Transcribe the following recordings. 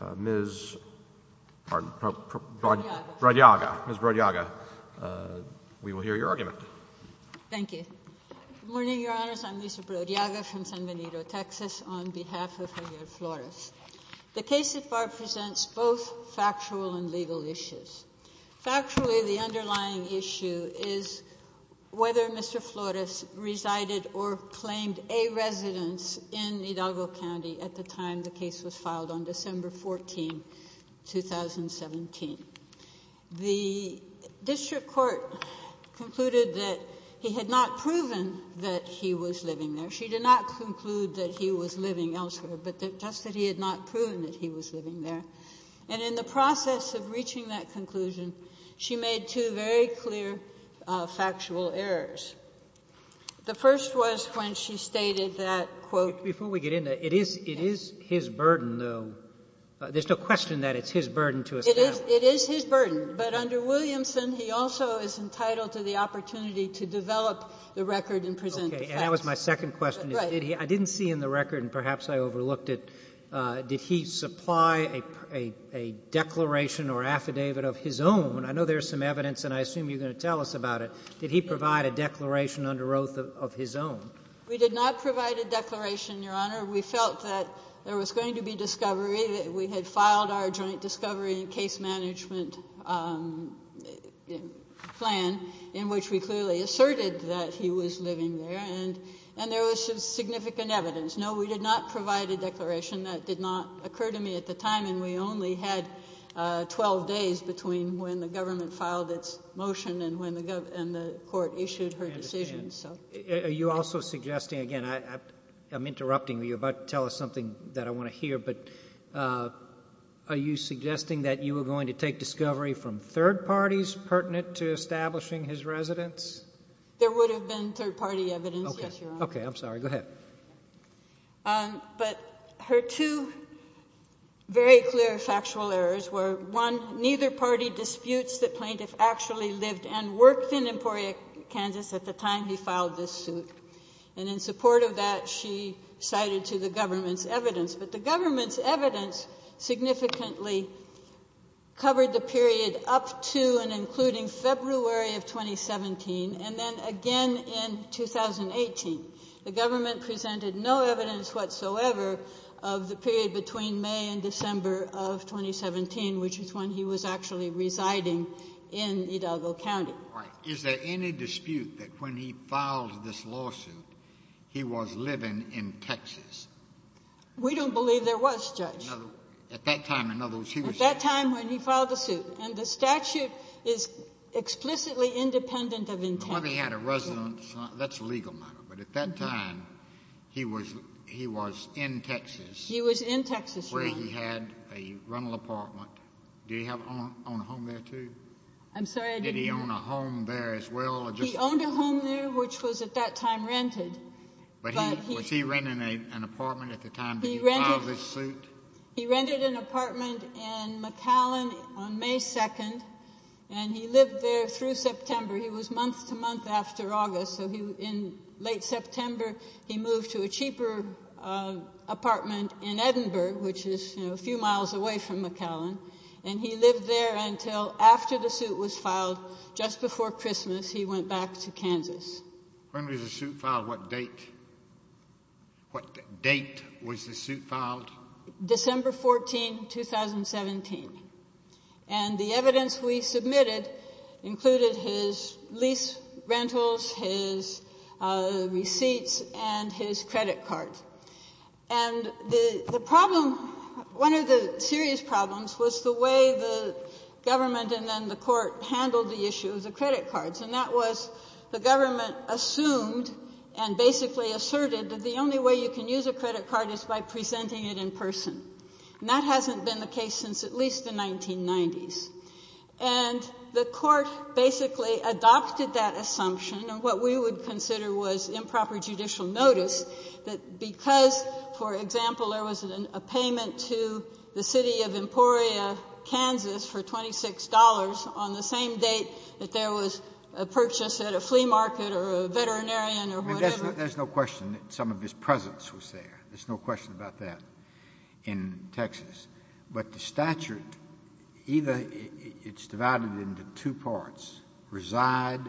of San Benito, Texas, on behalf of Javier Flores. The case so far presents both factual and legal issues. Factually, the underlying issue is whether Mr. Flores resided or claimed a residence in Hidalgo County at the time the case was filed on December 14, 2017. The district court concluded that he had not proven that he was living there. She did not conclude that he was living elsewhere, but just that he had not proven that he was living there. And in the process of reaching that conclusion, she made two very clear factual errors. The first was when she stated that, quote — Before we get into it, it is his burden, though. There's no question that it's his burden to establish. It is his burden. But under Williamson, he also is entitled to the opportunity to develop the record and present the facts. Okay. And that was my second question. Right. I didn't see in the record, and perhaps I overlooked it, did he supply a declaration or affidavit of his own? I know there's some evidence, and I assume you're going to tell us about it. Did he provide a declaration under oath of his own? We did not provide a declaration, Your Honor. We felt that there was going to be discovery. We had filed our joint discovery and case management plan in which we clearly asserted that he was living there, and there was some significant evidence. No, we did not provide a declaration. That did not occur to me at the time, and we only had 12 days between when the government filed its motion and when the court issued her decision. Are you also suggesting, again, I'm interrupting, but you're about to tell us something that I want to hear, but are you suggesting that you were going to take discovery from third parties pertinent to establishing his residence? There would have been third party evidence, yes, Your Honor. Okay. I'm sorry. Go ahead. But her two very clear factual errors were, one, neither party disputes the plaintiff actually lived and worked in Emporia, Kansas at the time he filed this suit, and in support of that, she cited to the government's evidence, but the government's evidence significantly covered the period up to and including February of 2017, and then again in 2018. The government presented no evidence whatsoever of the period between May and December of 2017, which is when he was actually residing in Hidalgo County. All right. Is there any dispute that when he filed this lawsuit, he was living in Texas? We don't believe there was, Judge. At that time, in other words, he was in Texas. At that time when he filed the suit, and the statute is explicitly independent of intent. But whether he had a residence, that's a legal matter. But at that time, he was in Texas. He was in Texas, Your Honor. Where he had a rental apartment. Did he own a home there, too? I'm sorry, I didn't hear. Did he own a home there, as well? He owned a home there, which was at that time rented. But was he renting an apartment at the time that he filed this suit? He rented an apartment in McAllen on May 2nd, and he lived there through September. He was month to month after August, so in late September, he moved to a cheaper apartment in Edinburgh, which is a few miles away from McAllen. And he lived there until after the suit was filed, just before Christmas, he went back to Kansas. When was the suit filed? What date? What date was the suit filed? December 14, 2017. And the evidence we submitted included his lease rentals, his receipts, and his credit card. And the problem, one of the serious problems, was the way the government and then the court handled the issue of the credit cards, and that was the government assumed and basically asserted that the only way you can use a credit card is by presenting it in person. And that hasn't been the case since at least the 1990s. And the court basically adopted that assumption, and what we would consider was improper judicial notice, that because, for example, there was a payment to the city of Emporia, Kansas for $26 on the same date that there was a purchase at a flea market or a veterinarian or whatever. There's no question that some of his presence was there. There's no question about that in Texas. But the statute, either it's divided into two parts, reside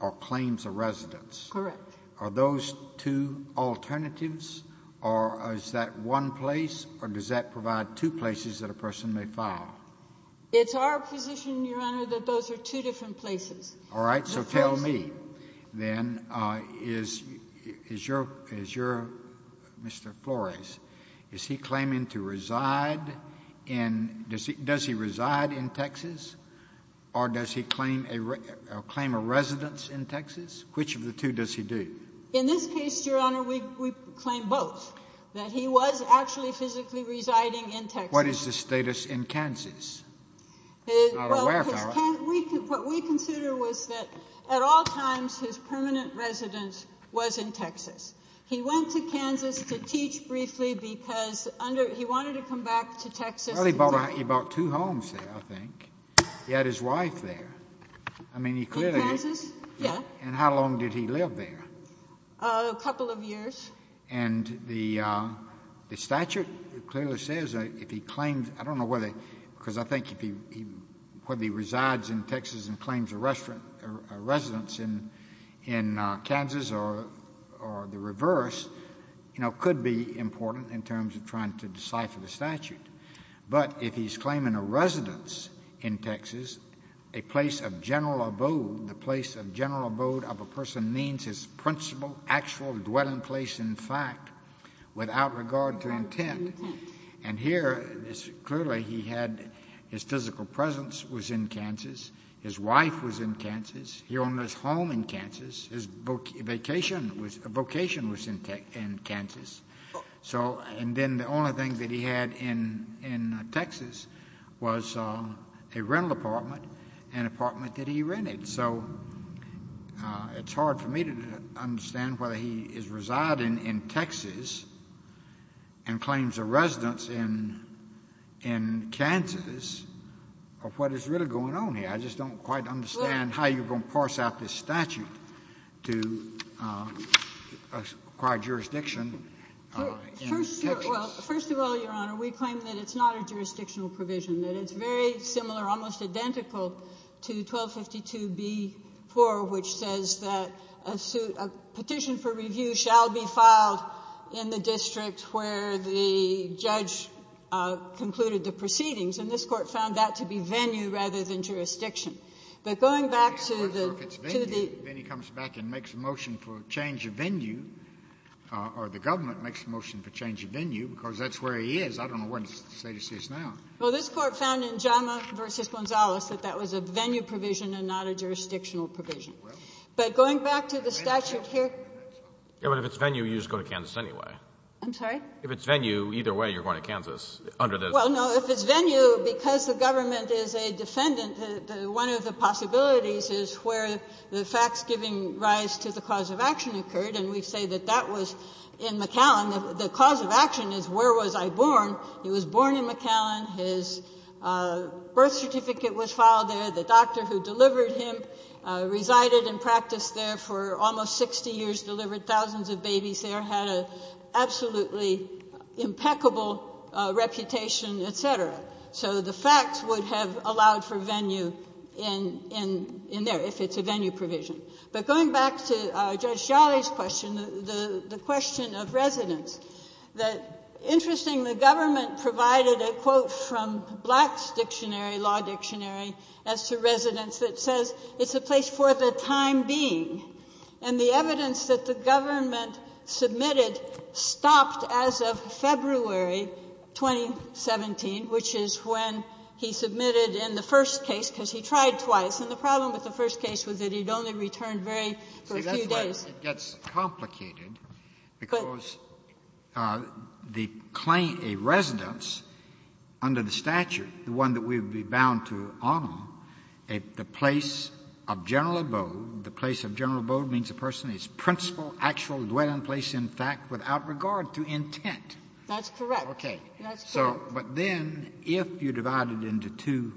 or claims of residence. Correct. Are those two alternatives, or is that one place, or does that provide two places that a person may file? It's our position, Your Honor, that those are two different places. All right. So tell me, then, is your Mr. Flores, is he claiming to reside in, does he reside in Texas, or does he claim a residence in Texas? Which of the two does he do? In this case, Your Honor, we claim both, that he was actually physically residing in Texas. What is the status in Kansas? He's not aware of that. Well, what we consider was that at all times his permanent residence was in Texas. He went to Kansas to teach briefly because he wanted to come back to Texas. Well, he bought two homes there, I think. He had his wife there. In Kansas? Yeah. And how long did he live there? A couple of years. And the statute clearly says that if he claims, I don't know whether, because I think whether he resides in Texas and claims a residence in Kansas or the reverse, you know, could be important in terms of trying to decipher the statute. But if he's claiming a residence in Texas, a place of general abode, the place of general abode of a person means his principal, actual dwelling place, in fact, without regard to intent. Without regard to intent. And here, clearly he had his physical presence was in Kansas. His wife was in Kansas. He owned his home in Kansas. His vocation was in Kansas. And then the only thing that he had in Texas was a rental apartment, an apartment that he rented. So it's hard for me to understand whether he is residing in Texas and claims a residence in Kansas or what is really going on here. I just don't quite understand how you're going to parse out this statute to acquire jurisdiction in Texas. Well, first of all, Your Honor, we claim that it's not a jurisdictional provision, that it's very similar, almost identical, to 1252b-4, which says that a petition for review shall be filed in the district where the judge concluded the proceedings, and this Court found that to be venue rather than jurisdiction. But going back to the to the ---- If it's venue, then he comes back and makes a motion for change of venue, or the government makes a motion for change of venue, because that's where he is. I don't know where his status is now. Well, this Court found in Jama v. Gonzalez that that was a venue provision and not a jurisdictional provision. But going back to the statute here ---- But if it's venue, you just go to Kansas anyway. I'm sorry? If it's venue, either way you're going to Kansas under this. Well, no. If it's venue, because the government is a defendant, one of the possibilities is where the facts giving rise to the cause of action occurred. And we say that that was in McAllen. The cause of action is where was I born. He was born in McAllen. His birth certificate was filed there. The doctor who delivered him resided and practiced there for almost 60 years, delivered thousands of babies there, had an absolutely impeccable reputation, et cetera. So the facts would have allowed for venue in there if it's a venue provision. But going back to Judge Jolly's question, the question of residence, the ---- interesting, the government provided a quote from Black's dictionary, law dictionary, as to residence that says it's a place for the time being. And the evidence that the government submitted stopped as of February 2017, which is when he submitted in the first case, because he tried twice. And the problem with the first case was that he had only returned very ---- It gets complicated because the claim, a residence under the statute, the one that we would be bound to honor, the place of general abode, the place of general abode means a person is principal, actual, dwelling place in fact without regard to intent. That's correct. Okay. That's correct. But then if you divide it into two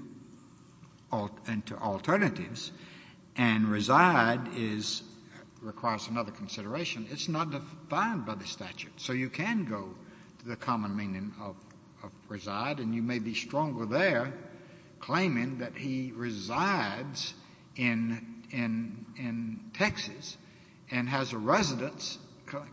alternatives and reside is, requires another consideration, it's not defined by the statute. So you can go to the common meaning of reside and you may be stronger there claiming that he resides in Texas and has a residence,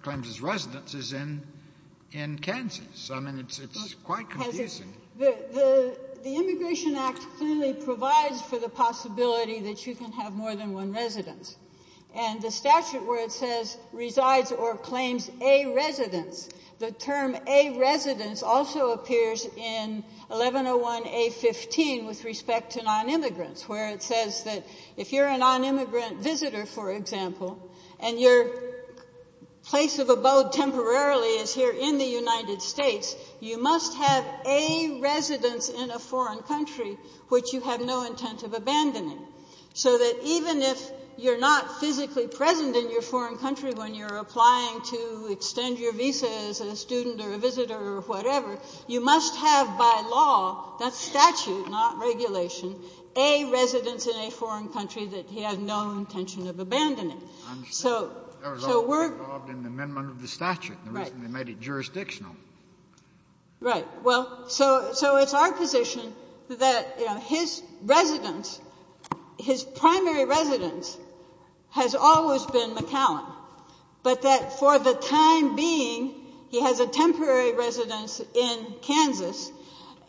claims his residence is in Kansas. I mean, it's quite confusing. The Immigration Act clearly provides for the possibility that you can have more than one residence. And the statute where it says resides or claims a residence, the term a residence also appears in 1101A15 with respect to nonimmigrants where it says that if you're a nonimmigrant visitor, for example, and your place of abode temporarily is here in the United States, you must have a residence in a foreign country which you have no intent of abandoning. So that even if you're not physically present in your foreign country when you're applying to extend your visa as a student or a visitor or whatever, you must have by law, that's statute, not regulation, a residence in a foreign country that he had no intention of abandoning. I understand. I was only involved in the amendment of the statute. The reason they made it jurisdictional. Right. Well, so it's our position that his residence, his primary residence has always been McAllen, but that for the time being he has a temporary residence in Kansas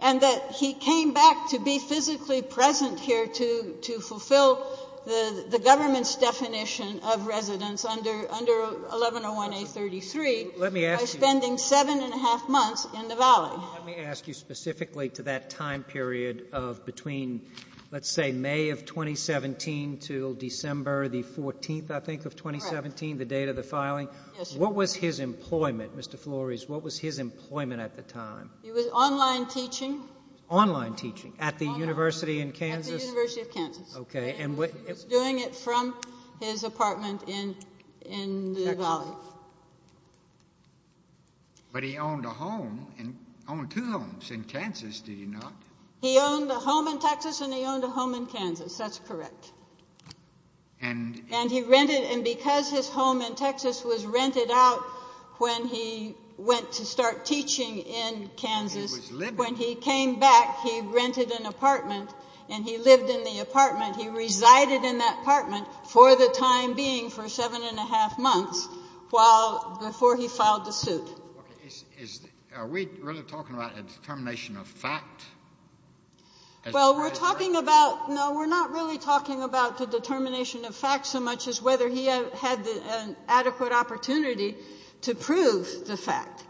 and that he came back to be physically present here to fulfill the government's requirement of residence under 1101A33 by spending seven and a half months in the Valley. Let me ask you specifically to that time period of between, let's say, May of 2017 until December the 14th, I think, of 2017, the date of the filing. Yes, Your Honor. What was his employment, Mr. Flores? What was his employment at the time? He was online teaching. Online teaching at the University in Kansas? At the University of Kansas. Okay. He was doing it from his apartment in the Valley. But he owned a home, owned two homes in Kansas, did he not? He owned a home in Texas and he owned a home in Kansas. That's correct. And he rented, and because his home in Texas was rented out when he went to start teaching in Kansas, when he came back he rented an apartment and he lived in the apartment, resided in that apartment for the time being, for seven and a half months while, before he filed the suit. Are we really talking about a determination of fact? Well, we're talking about, no, we're not really talking about the determination of fact so much as whether he had an adequate opportunity to prove the fact,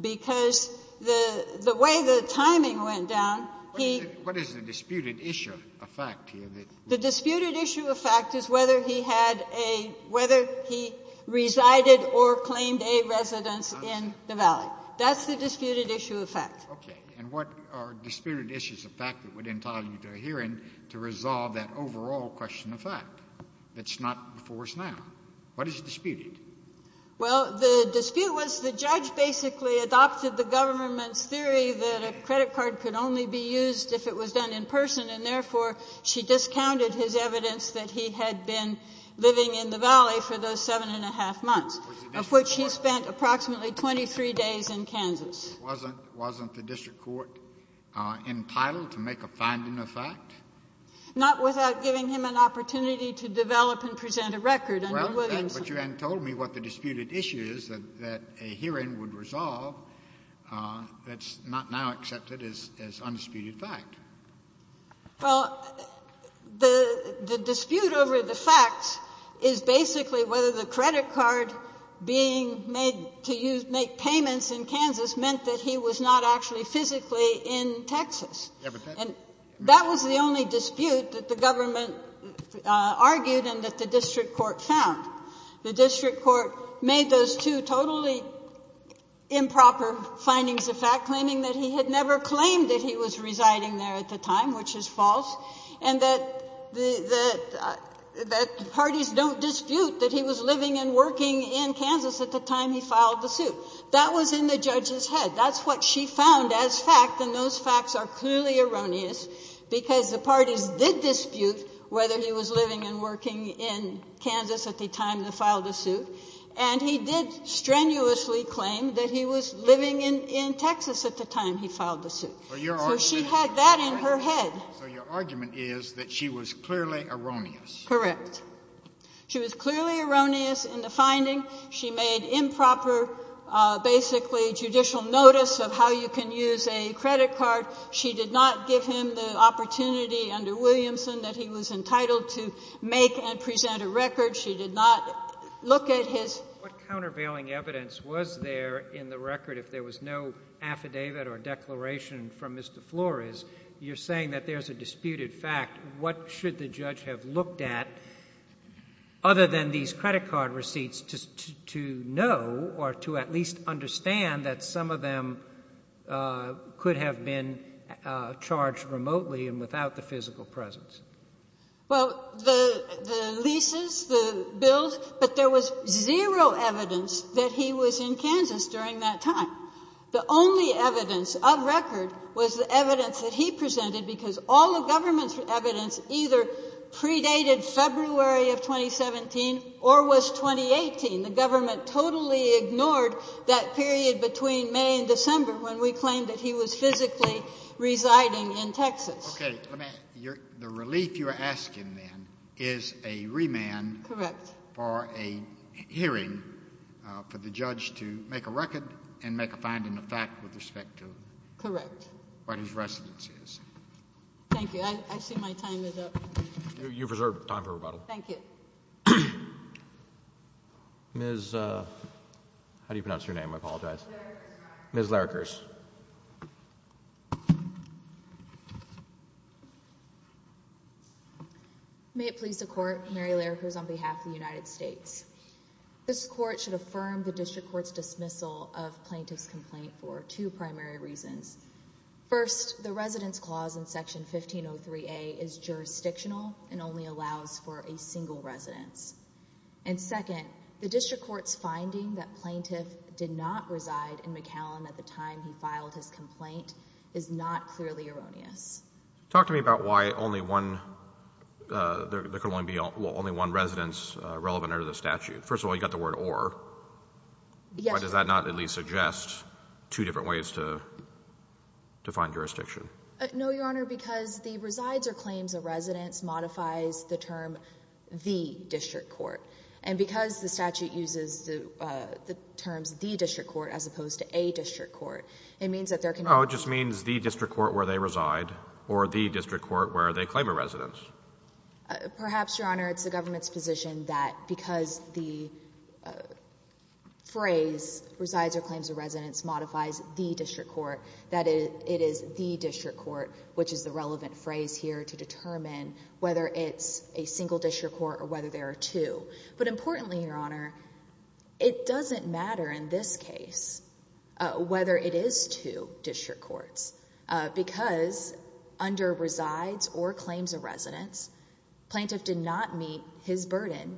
because the way the timing went down, he What is the disputed issue of fact here? The disputed issue of fact is whether he had a, whether he resided or claimed a residence in the Valley. That's the disputed issue of fact. Okay. And what are disputed issues of fact that would entitle you to a hearing to resolve that overall question of fact that's not before us now? What is disputed? Well, the dispute was the judge basically adopted the government's theory that a credit card could only be used if it was done in person, and therefore she discounted his evidence that he had been living in the Valley for those seven and a half months, of which he spent approximately 23 days in Kansas. Wasn't the district court entitled to make a finding of fact? Not without giving him an opportunity to develop and present a record under Williamson. But you hadn't told me what the disputed issue is that a hearing would resolve that's not now accepted as undisputed fact. Well, the dispute over the facts is basically whether the credit card being made to make payments in Kansas meant that he was not actually physically in Texas. And that was the only dispute that the government argued and that the district court found. The district court made those two totally improper findings of fact, claiming that he had never claimed that he was residing there at the time, which is false, and that parties don't dispute that he was living and working in Kansas at the time he filed the suit. That was in the judge's head. That's what she found as fact, and those facts are clearly erroneous because the parties did dispute whether he was living and working in Kansas at the time they filed the suit, and he did strenuously claim that he was living in Texas at the time he filed the suit. So she had that in her head. So your argument is that she was clearly erroneous. Correct. She was clearly erroneous in the finding. She made improper, basically, judicial notice of how you can use a credit card. She did not give him the opportunity under Williamson that he was entitled to make and present a record. She did not look at his— What countervailing evidence was there in the record if there was no affidavit or declaration from Mr. Flores? You're saying that there's a disputed fact. What should the judge have looked at other than these credit card receipts to know or to at least understand that some of them could have been charged remotely and without the physical presence? Well, the leases, the bills, but there was zero evidence that he was in Kansas during that time. The only evidence of record was the evidence that he presented because all the government's evidence either predated February of 2017 or was 2018. The government totally ignored that period between May and December when we claimed that he was physically residing in Texas. Okay. The relief you're asking then is a remand for a hearing for the judge to make a record and make a finding of fact with respect to what his residence is. Thank you. I see my time is up. You've reserved time for rebuttal. Thank you. Ms. How do you pronounce your name? I apologize. Ms. Larrikers. Ms. Larrikers. May it please the court, Mary Larrikers on behalf of the United States. This court should affirm the district court's dismissal of plaintiff's complaint for two primary reasons. First, the residence clause in Section 1503A is jurisdictional and only allows for a single residence. And second, the district court's finding that plaintiff did not reside in McAllen at the time he filed his complaint is not clearly erroneous. Talk to me about why there could only be one residence relevant under the statute. First of all, you've got the word or. Yes. Does that not at least suggest two different ways to define jurisdiction? No, Your Honor, because the resides or claims a residence modifies the term the district court. And because the statute uses the terms the district court as opposed to a district court, it means that there can be. Oh, it just means the district court where they reside or the district court where they claim a residence. Perhaps, Your Honor, it's the government's position that because the phrase resides or claims a residence modifies the district court, that it is the district court, which is the relevant phrase here to determine whether it's a single district court or whether there are two. But importantly, Your Honor, it doesn't matter in this case whether it is two district courts because under resides or claims a residence, plaintiff did not meet his burden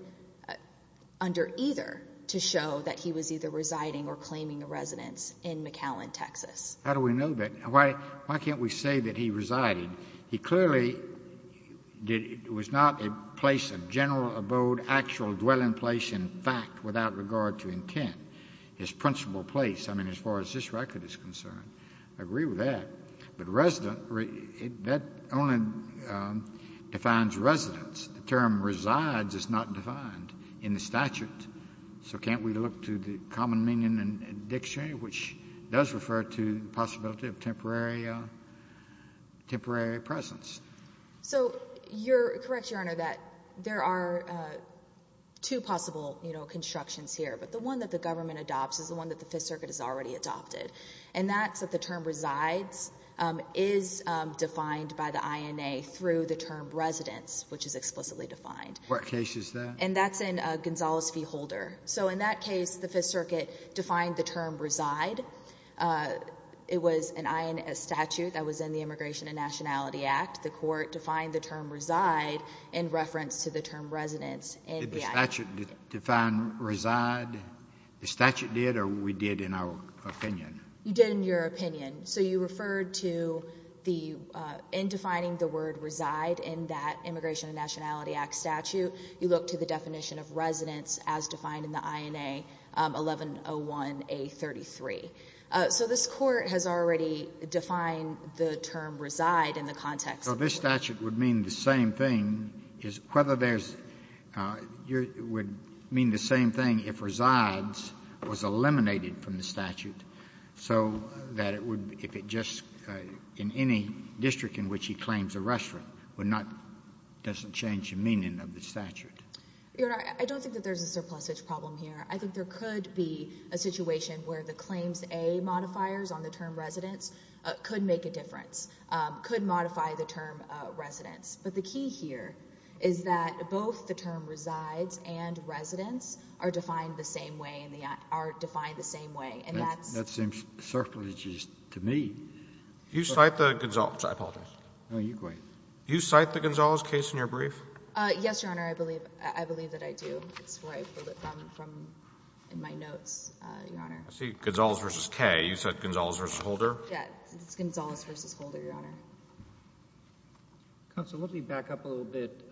under either to show that he was either residing or claiming a residence in McAllen, Texas. How do we know that? Why can't we say that he resided? He clearly was not a place of general abode, actual dwelling place, in fact, without regard to intent. His principal place, I mean, as far as this record is concerned, I agree with that. But resident, that only defines residence. The term resides is not defined in the statute. So can't we look to the common meaning and dictionary, which does refer to the possibility of temporary presence? So you're correct, Your Honor, that there are two possible, you know, constructions here. But the one that the government adopts is the one that the Fifth Circuit has already adopted. And that's that the term resides is defined by the INA through the term residence, which is explicitly defined. What case is that? And that's in Gonzales v. Holder. So in that case, the Fifth Circuit defined the term reside. It was an INA statute that was in the Immigration and Nationality Act. The court defined the term reside in reference to the term residence in the INA statute. Did the statute define reside? The statute did, or we did in our opinion? You did in your opinion. So you referred to the end defining the word reside in that Immigration and Nationality Act statute. You look to the definition of residence as defined in the INA 1101A33. So this Court has already defined the term reside in the context of the court. So this statute would mean the same thing if resides was eliminated from the statute, so that it would, if it just, in any district in which he claims a restaurant, would not, doesn't change the meaning of the statute. Your Honor, I don't think that there's a surplusage problem here. I think there could be a situation where the claims A modifiers on the term residence could make a difference, could modify the term residence. But the key here is that both the term resides and residence are defined the same way in the INA, are defined the same way, and that's. That seems surplusage to me. You cite the Gonzales. I apologize. No, you go ahead. You cite the Gonzales case in your brief? Yes, Your Honor. I believe, I believe that I do. That's where I pulled it from in my notes, Your Honor. I see Gonzales v. Kaye. You said Gonzales v. Holder. Yes, it's Gonzales v. Holder, Your Honor. Counsel, let me back up a little bit.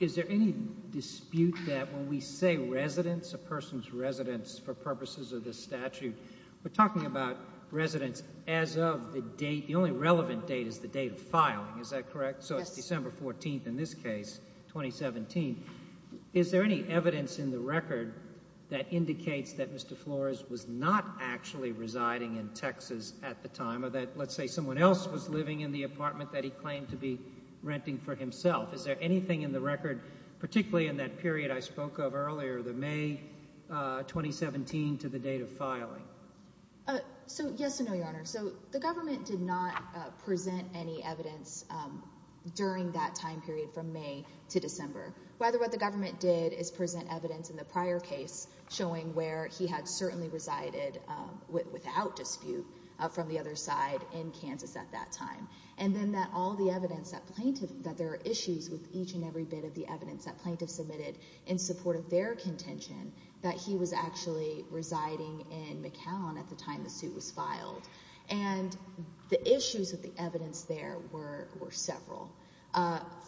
Is there any dispute that when we say residence, a person's residence, for purposes of this statute, we're talking about residence as of the date, the only relevant date is the date of filing. Is that correct? Yes. So it's December 14th in this case, 2017. Is there any evidence in the record that indicates that Mr. Flores was not actually residing in Texas at the time, or that, let's say, someone else was living in the apartment that he claimed to be renting for himself? Is there anything in the record, particularly in that period I spoke of earlier, the May 2017 to the date of filing? So, yes and no, Your Honor. So the government did not present any evidence during that time period from May to December. Rather, what the government did is present evidence in the prior case showing where he had certainly resided without dispute from the other side in Kansas at that time, and then that all the evidence that there are issues with each and every bit of the evidence that plaintiffs submitted in support of their contention that he was actually residing in McCown at the time the suit was filed. And the issues with the evidence there were several.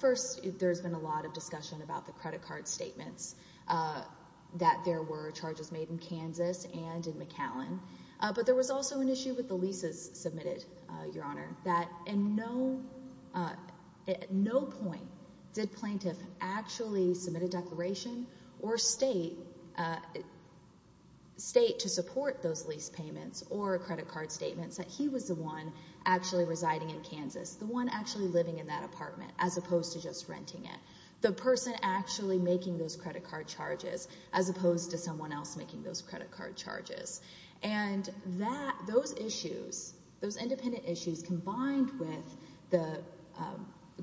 First, there's been a lot of discussion about the credit card statements, that there were charges made in Kansas and in McCown. But there was also an issue with the leases submitted, Your Honor, that at no point did plaintiff actually submit a declaration or state to support those lease payments or credit card statements that he was the one actually residing in Kansas, the one actually living in that apartment as opposed to just renting it, the person actually making those credit card charges as opposed to someone else making those credit card charges. And those issues, those independent issues, combined with the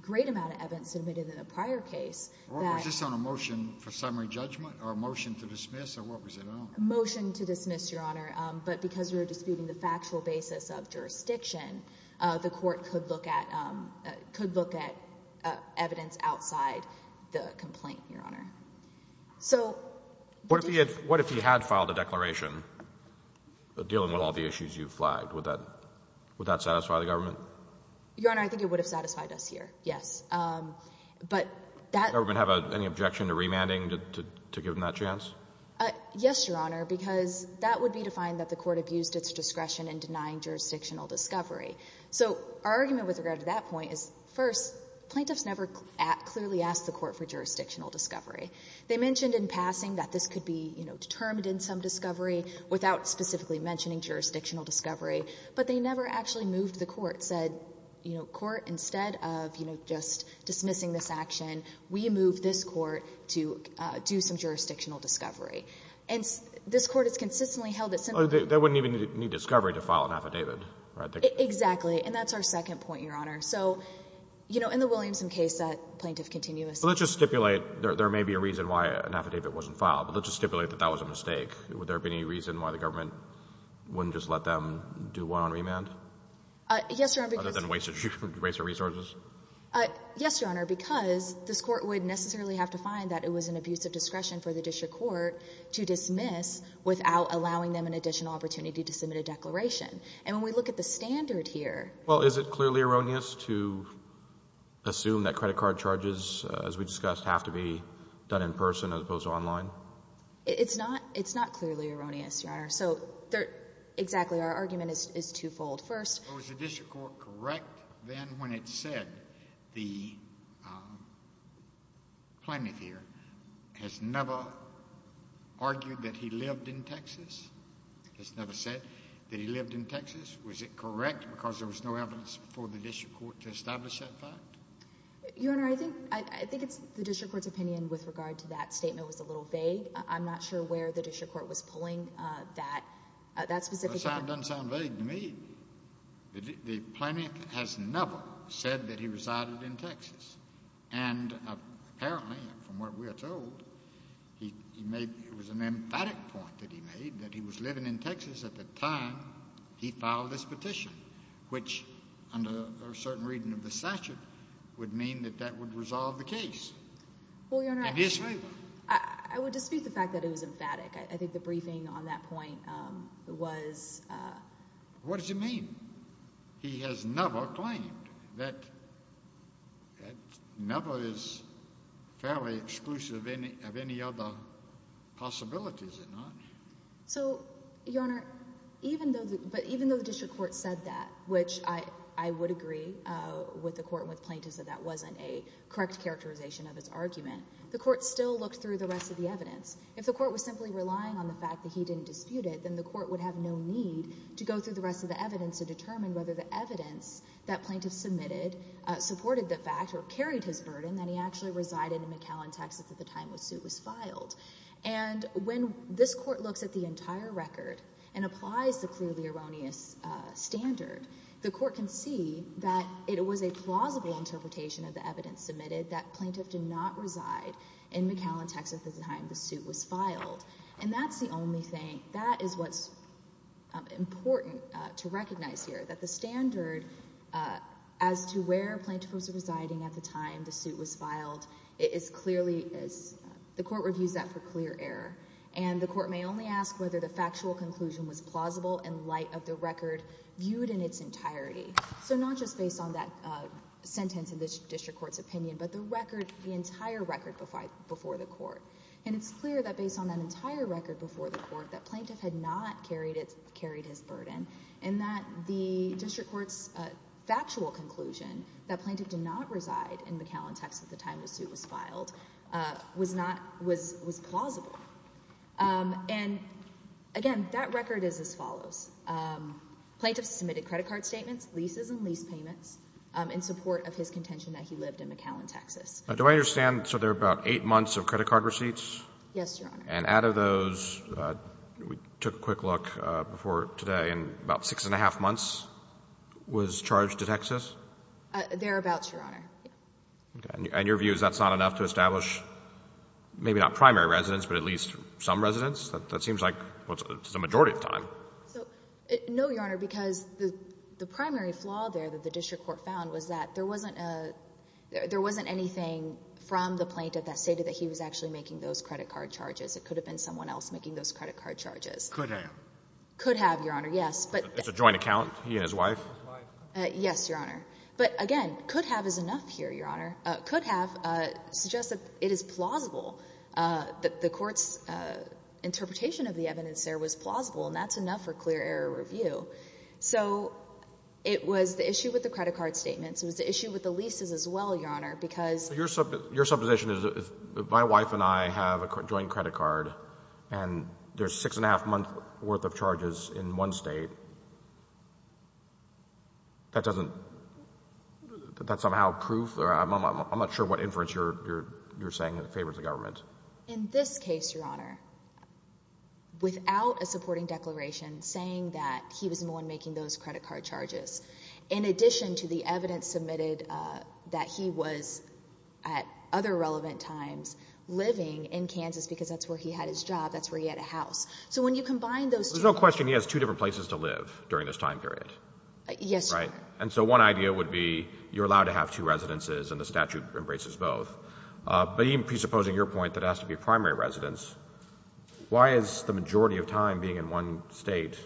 great amount of evidence submitted in the prior case— Was this on a motion for summary judgment or a motion to dismiss, or what was it on? A motion to dismiss, Your Honor, but because we were disputing the factual basis of jurisdiction, the court could look at evidence outside the complaint, Your Honor. What if he had filed a declaration dealing with all the issues you've flagged? Would that satisfy the government? Your Honor, I think it would have satisfied us here, yes. Does the government have any objection to remanding to give him that chance? Yes, Your Honor, because that would be to find that the court abused its discretion in denying jurisdictional discovery. So our argument with regard to that point is, first, plaintiffs never clearly asked the court for jurisdictional discovery. They mentioned in passing that this could be determined in some discovery without specifically mentioning jurisdictional discovery, but they never actually moved the court, said, you know, court, instead of just dismissing this action, we move this court to do some jurisdictional discovery. And this court has consistently held that— They wouldn't even need discovery to file an affidavit, right? Exactly. And that's our second point, Your Honor. So, you know, in the Williamson case, that plaintiff continuously— But let's just stipulate there may be a reason why an affidavit wasn't filed, but let's just stipulate that that was a mistake. Would there have been any reason why the government wouldn't just let them do one on remand? Yes, Your Honor, because— Other than waste of resources? Yes, Your Honor, because this court would necessarily have to find that it was an abuse of discretion for the district court to dismiss without allowing them an additional opportunity to submit a declaration. And when we look at the standard here— Well, is it clearly erroneous to assume that credit card charges, as we discussed, have to be done in person as opposed to online? It's not clearly erroneous, Your Honor. So, exactly, our argument is twofold. First— Was the district court correct then when it said the plaintiff here has never argued that he lived in Texas? Has never said that he lived in Texas? Was it correct because there was no evidence for the district court to establish that fact? Your Honor, I think it's the district court's opinion with regard to that statement was a little vague. I'm not sure where the district court was pulling that specific— Well, it doesn't sound vague to me. The plaintiff has never said that he resided in Texas. And apparently, from what we are told, he made—it was an emphatic point that he made that he was living in Texas at the time he filed this petition, which under a certain reading of the statute would mean that that would resolve the case. Well, Your Honor, I would dispute the fact that it was emphatic. I think the briefing on that point was— What does it mean? He has never claimed that—never is fairly exclusive of any other possibility, is it not? So, Your Honor, even though the district court said that, which I would agree with the court and with plaintiffs that that wasn't a correct characterization of its argument, the court still looked through the rest of the evidence. If the court was simply relying on the fact that he didn't dispute it, then the court would have no need to go through the rest of the evidence to determine whether the evidence that plaintiffs submitted supported the fact or carried his burden that he actually resided in McAllen, Texas at the time the suit was filed. And when this court looks at the entire record and applies the clearly erroneous standard, the court can see that it was a plausible interpretation of the evidence submitted that plaintiff did not reside in McAllen, Texas at the time the suit was filed. And that's the only thing—that is what's important to recognize here, that the standard as to where plaintiffs were residing at the time the suit was filed is clearly—the court reviews that for clear error. And the court may only ask whether the factual conclusion was plausible in light of the record viewed in its entirety. So not just based on that sentence in the district court's opinion, but the record—the entire record before the court. And it's clear that based on that entire record before the court that plaintiff had not carried his burden in that the district court's factual conclusion that plaintiff did not reside in McAllen, Texas at the time the suit was filed was not—was plausible. And again, that record is as follows. Plaintiffs submitted credit card statements, leases, and lease payments in support of his contention that he lived in McAllen, Texas. Do I understand? So there are about eight months of credit card receipts? Yes, Your Honor. And out of those, we took a quick look before today, and about six and a half months was charged to Texas? Thereabouts, Your Honor. And your view is that's not enough to establish maybe not primary residence, but at least some residence? That seems like the majority of the time. No, Your Honor, because the primary flaw there that the district court found was that there wasn't a— It could have been someone else making those credit card charges. Could have. Could have, Your Honor, yes, but— It's a joint account, he and his wife? Yes, Your Honor. But again, could have is enough here, Your Honor. Could have suggests that it is plausible, that the court's interpretation of the evidence there was plausible, and that's enough for clear error review. So it was the issue with the credit card statements. It was the issue with the leases as well, Your Honor, because— Your supposition is if my wife and I have a joint credit card and there's six and a half month worth of charges in one state, that doesn't—that's somehow proof? I'm not sure what inference you're saying favors the government. In this case, Your Honor, without a supporting declaration saying that he was the one making those credit card charges, in addition to the evidence submitted that he was at other relevant times living in Kansas because that's where he had his job, that's where he had a house. So when you combine those two— There's no question he has two different places to live during this time period. Yes, Your Honor. Right? And so one idea would be you're allowed to have two residences and the statute embraces both. But even presupposing your point that it has to be a primary residence, why is the majority of time being in one state?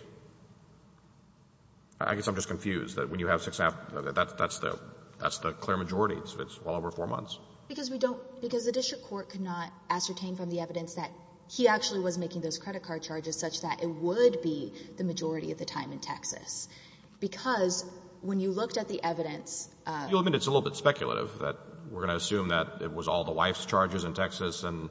I guess I'm just confused that when you have six and a half—that's the clear majority, so it's well over four months. Because we don't—because the district court could not ascertain from the evidence that he actually was making those credit card charges such that it would be the majority of the time in Texas. Because when you looked at the evidence— You'll admit it's a little bit speculative that we're going to assume that it was all the wife's charges in Texas and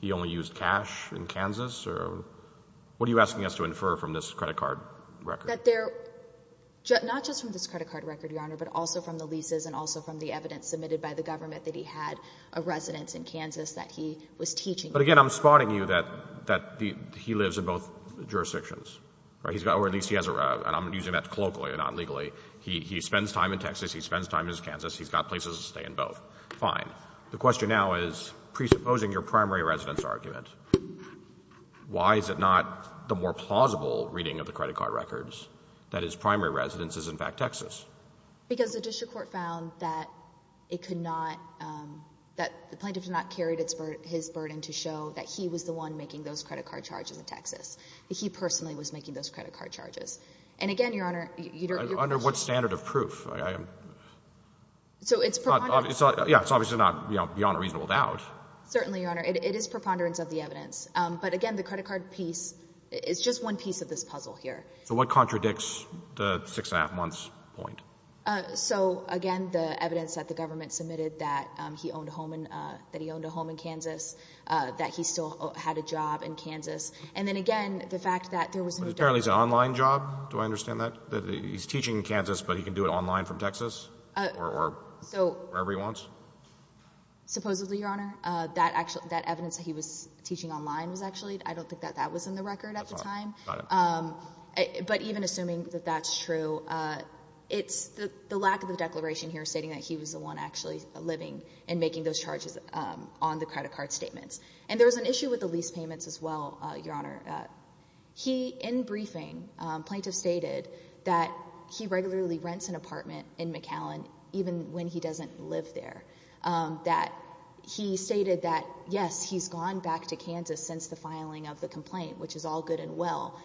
he only used cash in Kansas? What are you asking us to infer from this credit card record? That there—not just from this credit card record, Your Honor, but also from the leases and also from the evidence submitted by the government that he had a residence in Kansas that he was teaching— But again, I'm spotting you that he lives in both jurisdictions. Or at least he has a—and I'm using that colloquially, not legally. He spends time in Texas. He spends time in Kansas. He's got places to stay in both. Fine. The question now is, presupposing your primary residence argument, why is it not the more plausible reading of the credit card records that his primary residence is in fact Texas? Because the district court found that it could not—that the plaintiff did not carry his burden to show that he was the one making those credit card charges in Texas. He personally was making those credit card charges. And again, Your Honor— Under what standard of proof? So it's— Yeah, it's obviously not beyond a reasonable doubt. Certainly, Your Honor. It is preponderance of the evidence. But again, the credit card piece is just one piece of this puzzle here. So what contradicts the six-and-a-half-months point? So again, the evidence that the government submitted that he owned a home in Kansas, that he still had a job in Kansas. And then again, the fact that there was no— But apparently it's an online job. Do I understand that? That he's teaching in Kansas, but he can do it online from Texas? Or wherever he wants? Supposedly, Your Honor. That evidence that he was teaching online was actually—I don't think that that was in the record at the time. Got it. But even assuming that that's true, it's the lack of the declaration here stating that he was the one actually living and making those charges on the credit card statements. And there was an issue with the lease payments as well, Your Honor. In briefing, plaintiffs stated that he regularly rents an apartment in McAllen even when he doesn't live there. That he stated that, yes, he's gone back to Kansas since the filing of the complaint, which is all good and well.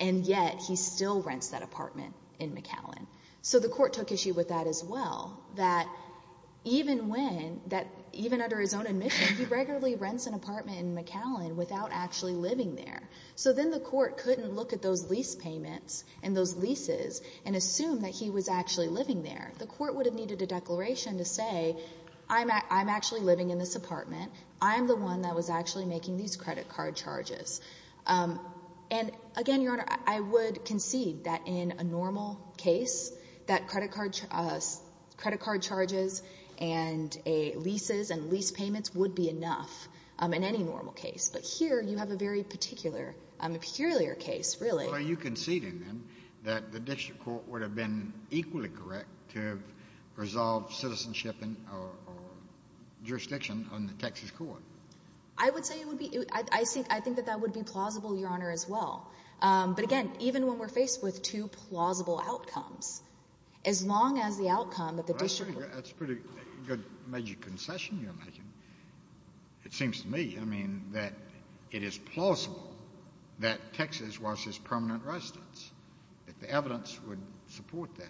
And yet he still rents that apartment in McAllen. So the court took issue with that as well, that even under his own admission, he regularly rents an apartment in McAllen without actually living there. So then the court couldn't look at those lease payments and those leases and assume that he was actually living there. The court would have needed a declaration to say, I'm actually living in this apartment. I'm the one that was actually making these credit card charges. And again, Your Honor, I would concede that in a normal case, that credit card charges and leases and lease payments would be enough in any normal case. But here you have a very particular, peculiar case, really. Well, are you conceding then that the district court would have been equally correct to have resolved citizenship or jurisdiction on the Texas court? I would say it would be. I think that that would be plausible, Your Honor, as well. But again, even when we're faced with two plausible outcomes, as long as the outcome that the district court— That's a pretty good major concession you're making, it seems to me. I mean, that it is plausible that Texas was his permanent residence, that the evidence would support that.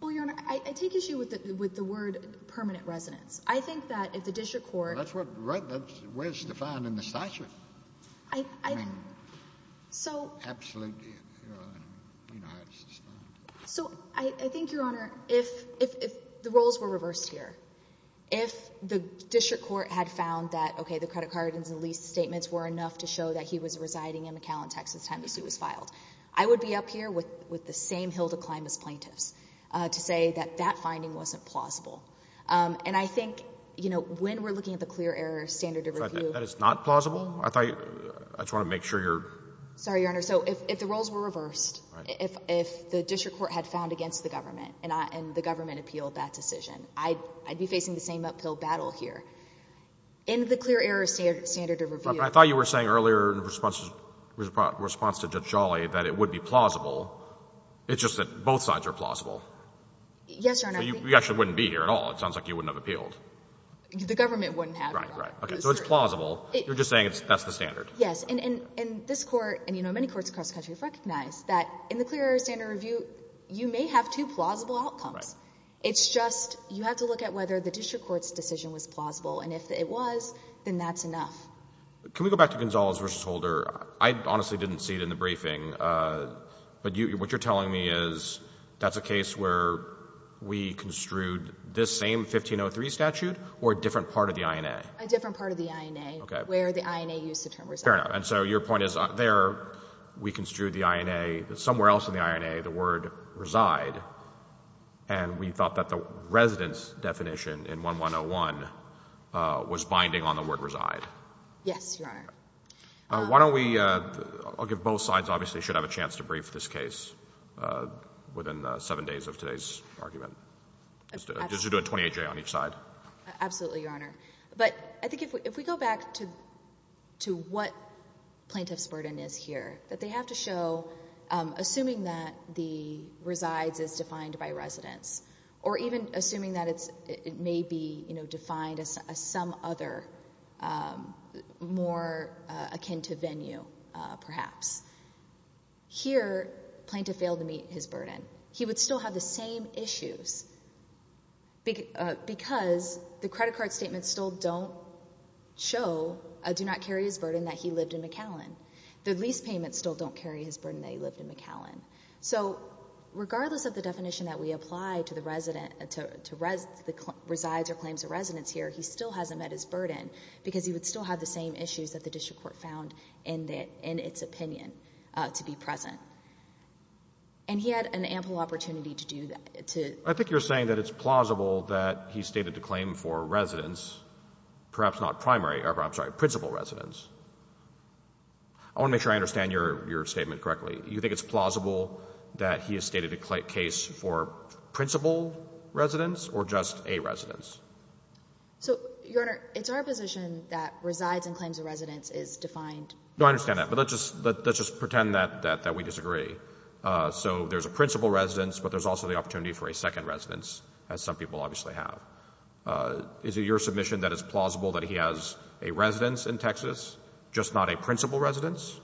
Well, Your Honor, I take issue with the word permanent residence. I think that if the district court— Well, that's what's defined in the statute. I mean, absolutely, Your Honor, we know how it's defined. So I think, Your Honor, if the roles were reversed here, if the district court had found that, okay, the credit card and the lease statements were enough to show that he was residing in McAllen, Texas at the time the suit was filed, I would be up here with the same hill to climb as plaintiffs to say that that finding wasn't plausible. And I think, you know, when we're looking at the clear error standard of review— That is not plausible? I just want to make sure you're— Sorry, Your Honor. So if the roles were reversed, if the district court had found against the government and the government appealed that decision, I'd be facing the same uphill battle here. In the clear error standard of review— I thought you were saying earlier in response to Judge Jolly that it would be plausible. It's just that both sides are plausible. Yes, Your Honor. So you actually wouldn't be here at all. It sounds like you wouldn't have appealed. The government wouldn't have, Your Honor. Right, right. Okay, so it's plausible. You're just saying that's the standard. Yes. And this Court, and, you know, many courts across the country have recognized that in the clear error standard of review, you may have two plausible outcomes. Right. It's just you have to look at whether the district court's decision was plausible, and if it was, then that's enough. Can we go back to Gonzalez v. Holder? I honestly didn't see it in the briefing. But what you're telling me is that's a case where we construed this same 1503 statute or a different part of the INA? A different part of the INA. Okay. Where the INA used the term reside. Fair enough. And so your point is there we construed the INA, but somewhere else in the INA the word reside, and we thought that the residence definition in 1101 was binding on the word reside. Yes, Your Honor. Why don't we, I'll give both sides obviously should have a chance to brief this case within seven days of today's argument. Just to do a 28-J on each side. Absolutely, Your Honor. But I think if we go back to what plaintiff's burden is here, that they have to show, assuming that the resides is defined by residence, or even assuming that it may be defined as some other more akin to venue perhaps. Here plaintiff failed to meet his burden. He would still have the same issues because the credit card statements still don't show, do not carry his burden that he lived in McAllen. The lease payments still don't carry his burden that he lived in McAllen. So regardless of the definition that we apply to the resident, to resides or claims of residence here, he still hasn't met his burden because he would still have the same issues that the district court found in its opinion to be present. And he had an ample opportunity to do that. I think you're saying that it's plausible that he stated the claim for residence, perhaps not primary, I'm sorry, principal residence. I want to make sure I understand your statement correctly. You think it's plausible that he has stated a case for principal residence or just a residence? So, Your Honor, it's our position that resides and claims of residence is defined. No, I understand that. But let's just pretend that we disagree. So there's a principal residence, but there's also the opportunity for a second residence, as some people obviously have. Is it your submission that it's plausible that he has a residence in Texas, just not a principal residence?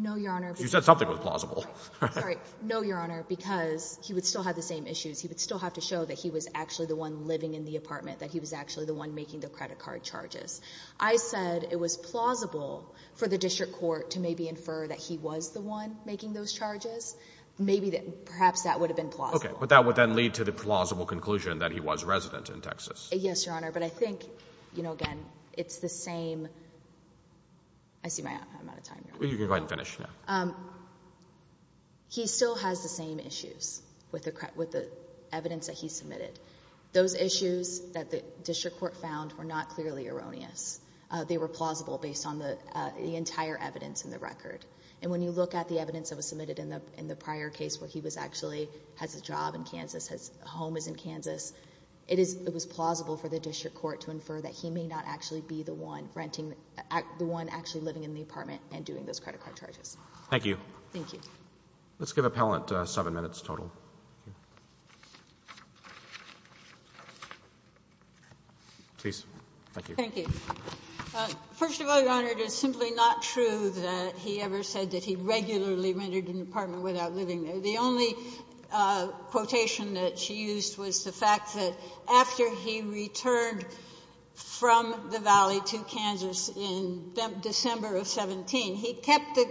No, Your Honor. You said something was plausible. Sorry. No, Your Honor, because he would still have the same issues. He would still have to show that he was actually the one living in the apartment, that he was actually the one making the credit card charges. I said it was plausible for the district court to maybe infer that he was the one making those charges. Maybe perhaps that would have been plausible. Okay. But that would then lead to the plausible conclusion that he was resident in Texas. Yes, Your Honor. But I think, again, it's the same. I see I'm out of time. You can go ahead and finish. He still has the same issues with the evidence that he submitted. Those issues that the district court found were not clearly erroneous. They were plausible based on the entire evidence in the record. And when you look at the evidence that was submitted in the prior case where he actually has a job in Kansas, his home is in Kansas, it was plausible for the district court to infer that he may not actually be the one renting, the one actually living in the apartment and doing those credit card charges. Thank you. Thank you. Let's give appellant seven minutes total. Please. Thank you. Thank you. First of all, Your Honor, it is simply not true that he ever said that he regularly rented an apartment without living there. The only quotation that she used was the fact that after he returned from the valley to Kansas in December of 17, he kept the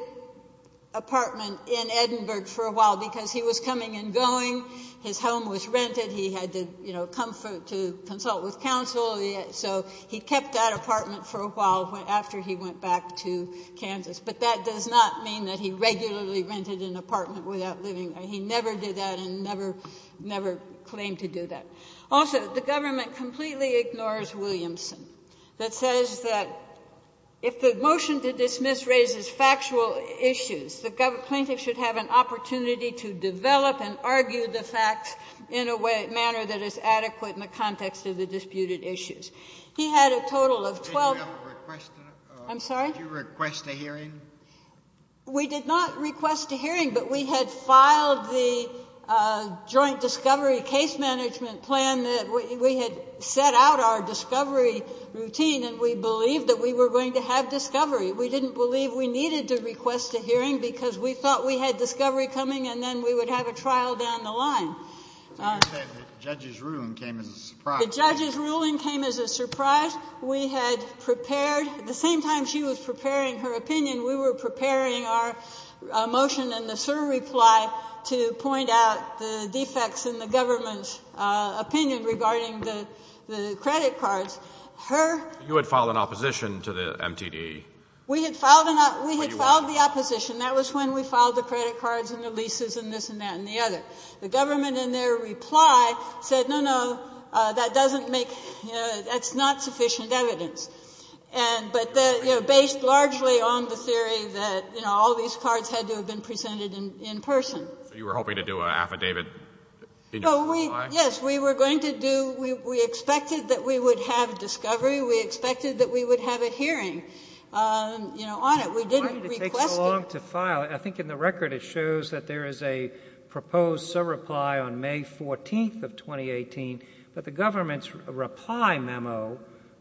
apartment in Edinburgh for a while because he was coming and going. His home was rented. He had to, you know, come to consult with counsel. So he kept that apartment for a while after he went back to Kansas. But that does not mean that he regularly rented an apartment without living there. He never did that and never claimed to do that. Also, the government completely ignores Williamson that says that if the motion to dismiss raises factual issues, the plaintiff should have an opportunity to develop and argue the facts in a manner that is adequate in the context of the disputed issues. He had a total of 12. I'm sorry? Did you request a hearing? We did not request a hearing, but we had filed the joint discovery case management plan. We had set out our discovery routine, and we believed that we were going to have discovery. We didn't believe we needed to request a hearing because we thought we had discovery coming and then we would have a trial down the line. The judge's ruling came as a surprise. The judge's ruling came as a surprise. In fact, we had prepared, the same time she was preparing her opinion, we were preparing our motion and the SIR reply to point out the defects in the government's opinion regarding the credit cards. Her ---- You had filed an opposition to the MTD. We had filed an ---- When you were. We had filed the opposition. That was when we filed the credit cards and the leases and this and that and the other. But the government in their reply said, no, no, that doesn't make, that's not sufficient evidence. But based largely on the theory that all these cards had to have been presented in person. You were hoping to do an affidavit in your reply? Yes. We were going to do, we expected that we would have discovery. We expected that we would have a hearing on it. We didn't request it. I think in the record it shows that there is a proposed SIR reply on May 14th of 2018. But the government's reply memo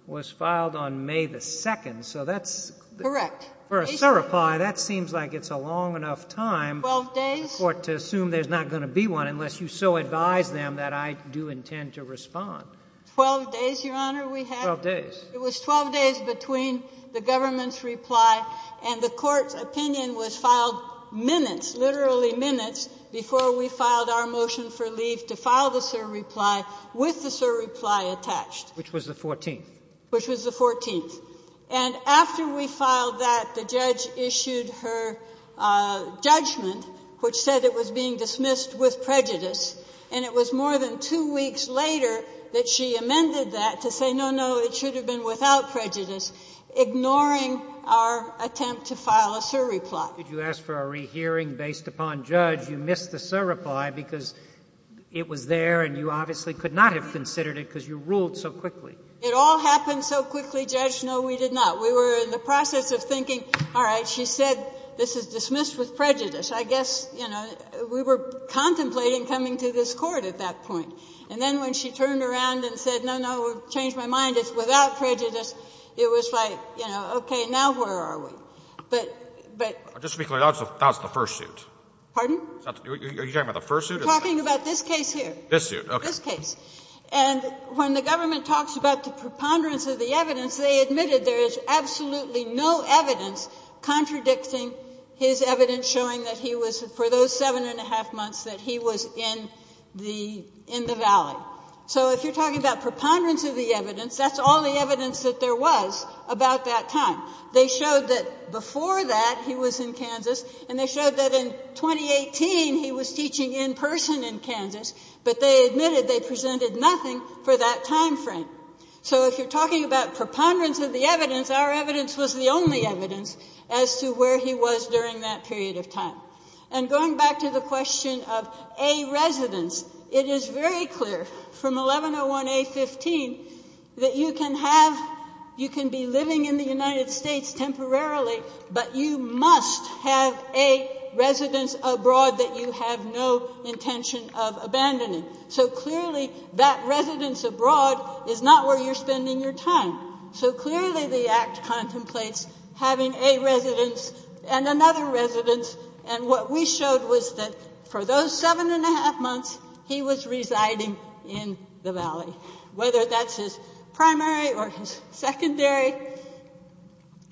was filed on May the 2nd. So that's. Correct. For a SIR reply, that seems like it's a long enough time. 12 days. For the court to assume there's not going to be one unless you so advise them that I do intend to respond. 12 days, Your Honor, we had. 12 days. It was 12 days between the government's reply and the court's opinion was filed minutes, literally minutes before we filed our motion for leave to file the SIR reply with the SIR reply attached. Which was the 14th. Which was the 14th. And after we filed that, the judge issued her judgment, which said it was being dismissed with prejudice. And it was more than two weeks later that she amended that to say, no, no, it should have been without prejudice, ignoring our attempt to file a SIR reply. Did you ask for a rehearing based upon judge? You missed the SIR reply because it was there and you obviously could not have considered it because you ruled so quickly. It all happened so quickly, Judge. No, we did not. We were in the process of thinking, all right, she said this is dismissed with prejudice. I guess, you know, we were contemplating coming to this Court at that point. And then when she turned around and said, no, no, we've changed my mind, it's without prejudice, it was like, you know, okay, now where are we? But, but. Just to be clear, that's the first suit. Pardon? Are you talking about the first suit? I'm talking about this case here. This suit, okay. This case. And when the government talks about the preponderance of the evidence, they admitted there is absolutely no evidence contradicting his evidence showing that he was, for those seven and a half months, that he was in the valley. So if you're talking about preponderance of the evidence, that's all the evidence that there was about that time. They showed that before that he was in Kansas, and they showed that in 2018 he was teaching in person in Kansas, but they admitted they presented nothing for that time frame. So if you're talking about preponderance of the evidence, our evidence was the only evidence as to where he was during that period of time. And going back to the question of a residence, it is very clear from 1101A15 that you can have, you can be living in the United States temporarily, but you must have a residence abroad that you have no intention of abandoning. So clearly that residence abroad is not where you're spending your time. So clearly the Act contemplates having a residence and another residence, and what we showed was that for those seven and a half months he was residing in the valley, whether that's his primary or his secondary.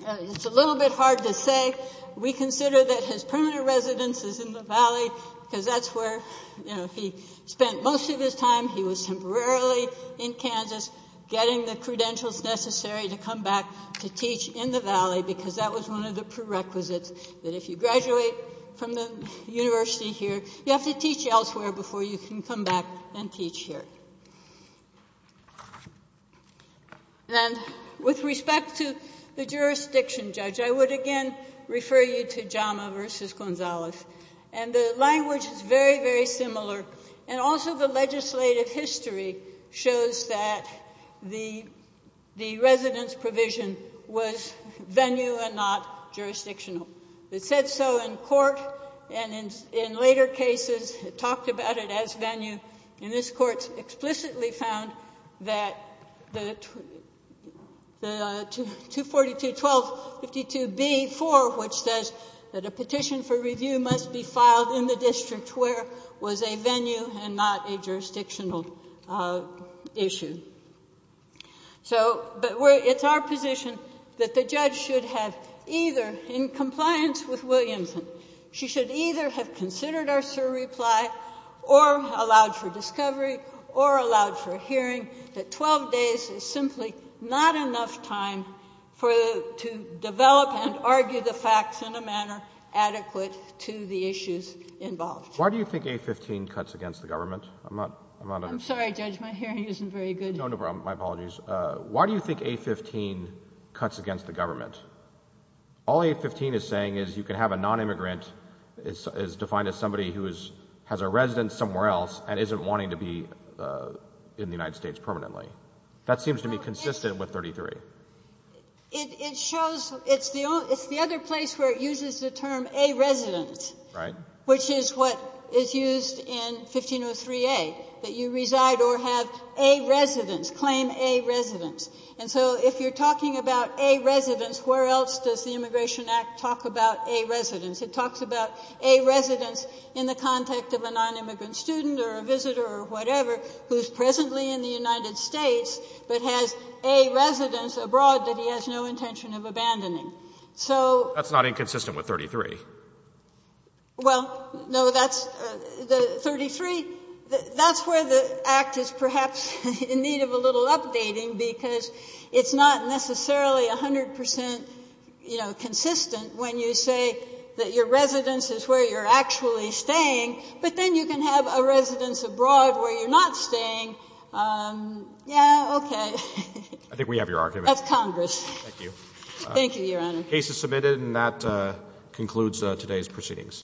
It's a little bit hard to say. We consider that his permanent residence is in the valley because that's where he spent most of his time. He was temporarily in Kansas getting the credentials necessary to come back to teach in the valley because that was one of the prerequisites that if you graduate from the university here, you have to teach elsewhere before you can come back and teach here. And with respect to the jurisdiction, Judge, I would again refer you to Jama v. Gonzalez. And the language is very, very similar. And also the legislative history shows that the residence provision was venue and not jurisdictional. It said so in court, and in later cases it talked about it as venue. And this court explicitly found that the 242.12.52b.4, which says that a petition for review must be filed in the district where was a venue and not a jurisdictional issue. So it's our position that the judge should have either, in compliance with Williamson, she should either have considered our surreply or allowed for discovery or allowed for hearing that 12 days is simply not enough time to develop and argue the facts in a manner adequate to the issues involved. Why do you think A15 cuts against the government? I'm sorry, Judge, my hearing isn't very good. No, no, my apologies. Why do you think A15 cuts against the government? All A15 is saying is you can have a nonimmigrant is defined as somebody who has a residence somewhere else and isn't wanting to be in the United States permanently. That seems to be consistent with 33. It shows it's the other place where it uses the term a residence, which is what is used in 1503a, that you reside or have a residence, claim a residence. And so if you're talking about a residence, where else does the Immigration Act talk about a residence? It talks about a residence in the context of a nonimmigrant student or a visitor or whatever who is presently in the United States but has a residence abroad that he has no intention of abandoning. So that's not inconsistent with 33. Well, no, that's the 33. That's where the Act is perhaps in need of a little updating, because it's not necessarily 100 percent, you know, consistent when you say that your residence is where you're actually staying, but then you can have a residence abroad where you're not staying. Yeah, okay. I think we have your argument. That's Congress. Thank you. Thank you, Your Honor. The case is submitted, and that concludes today's proceedings.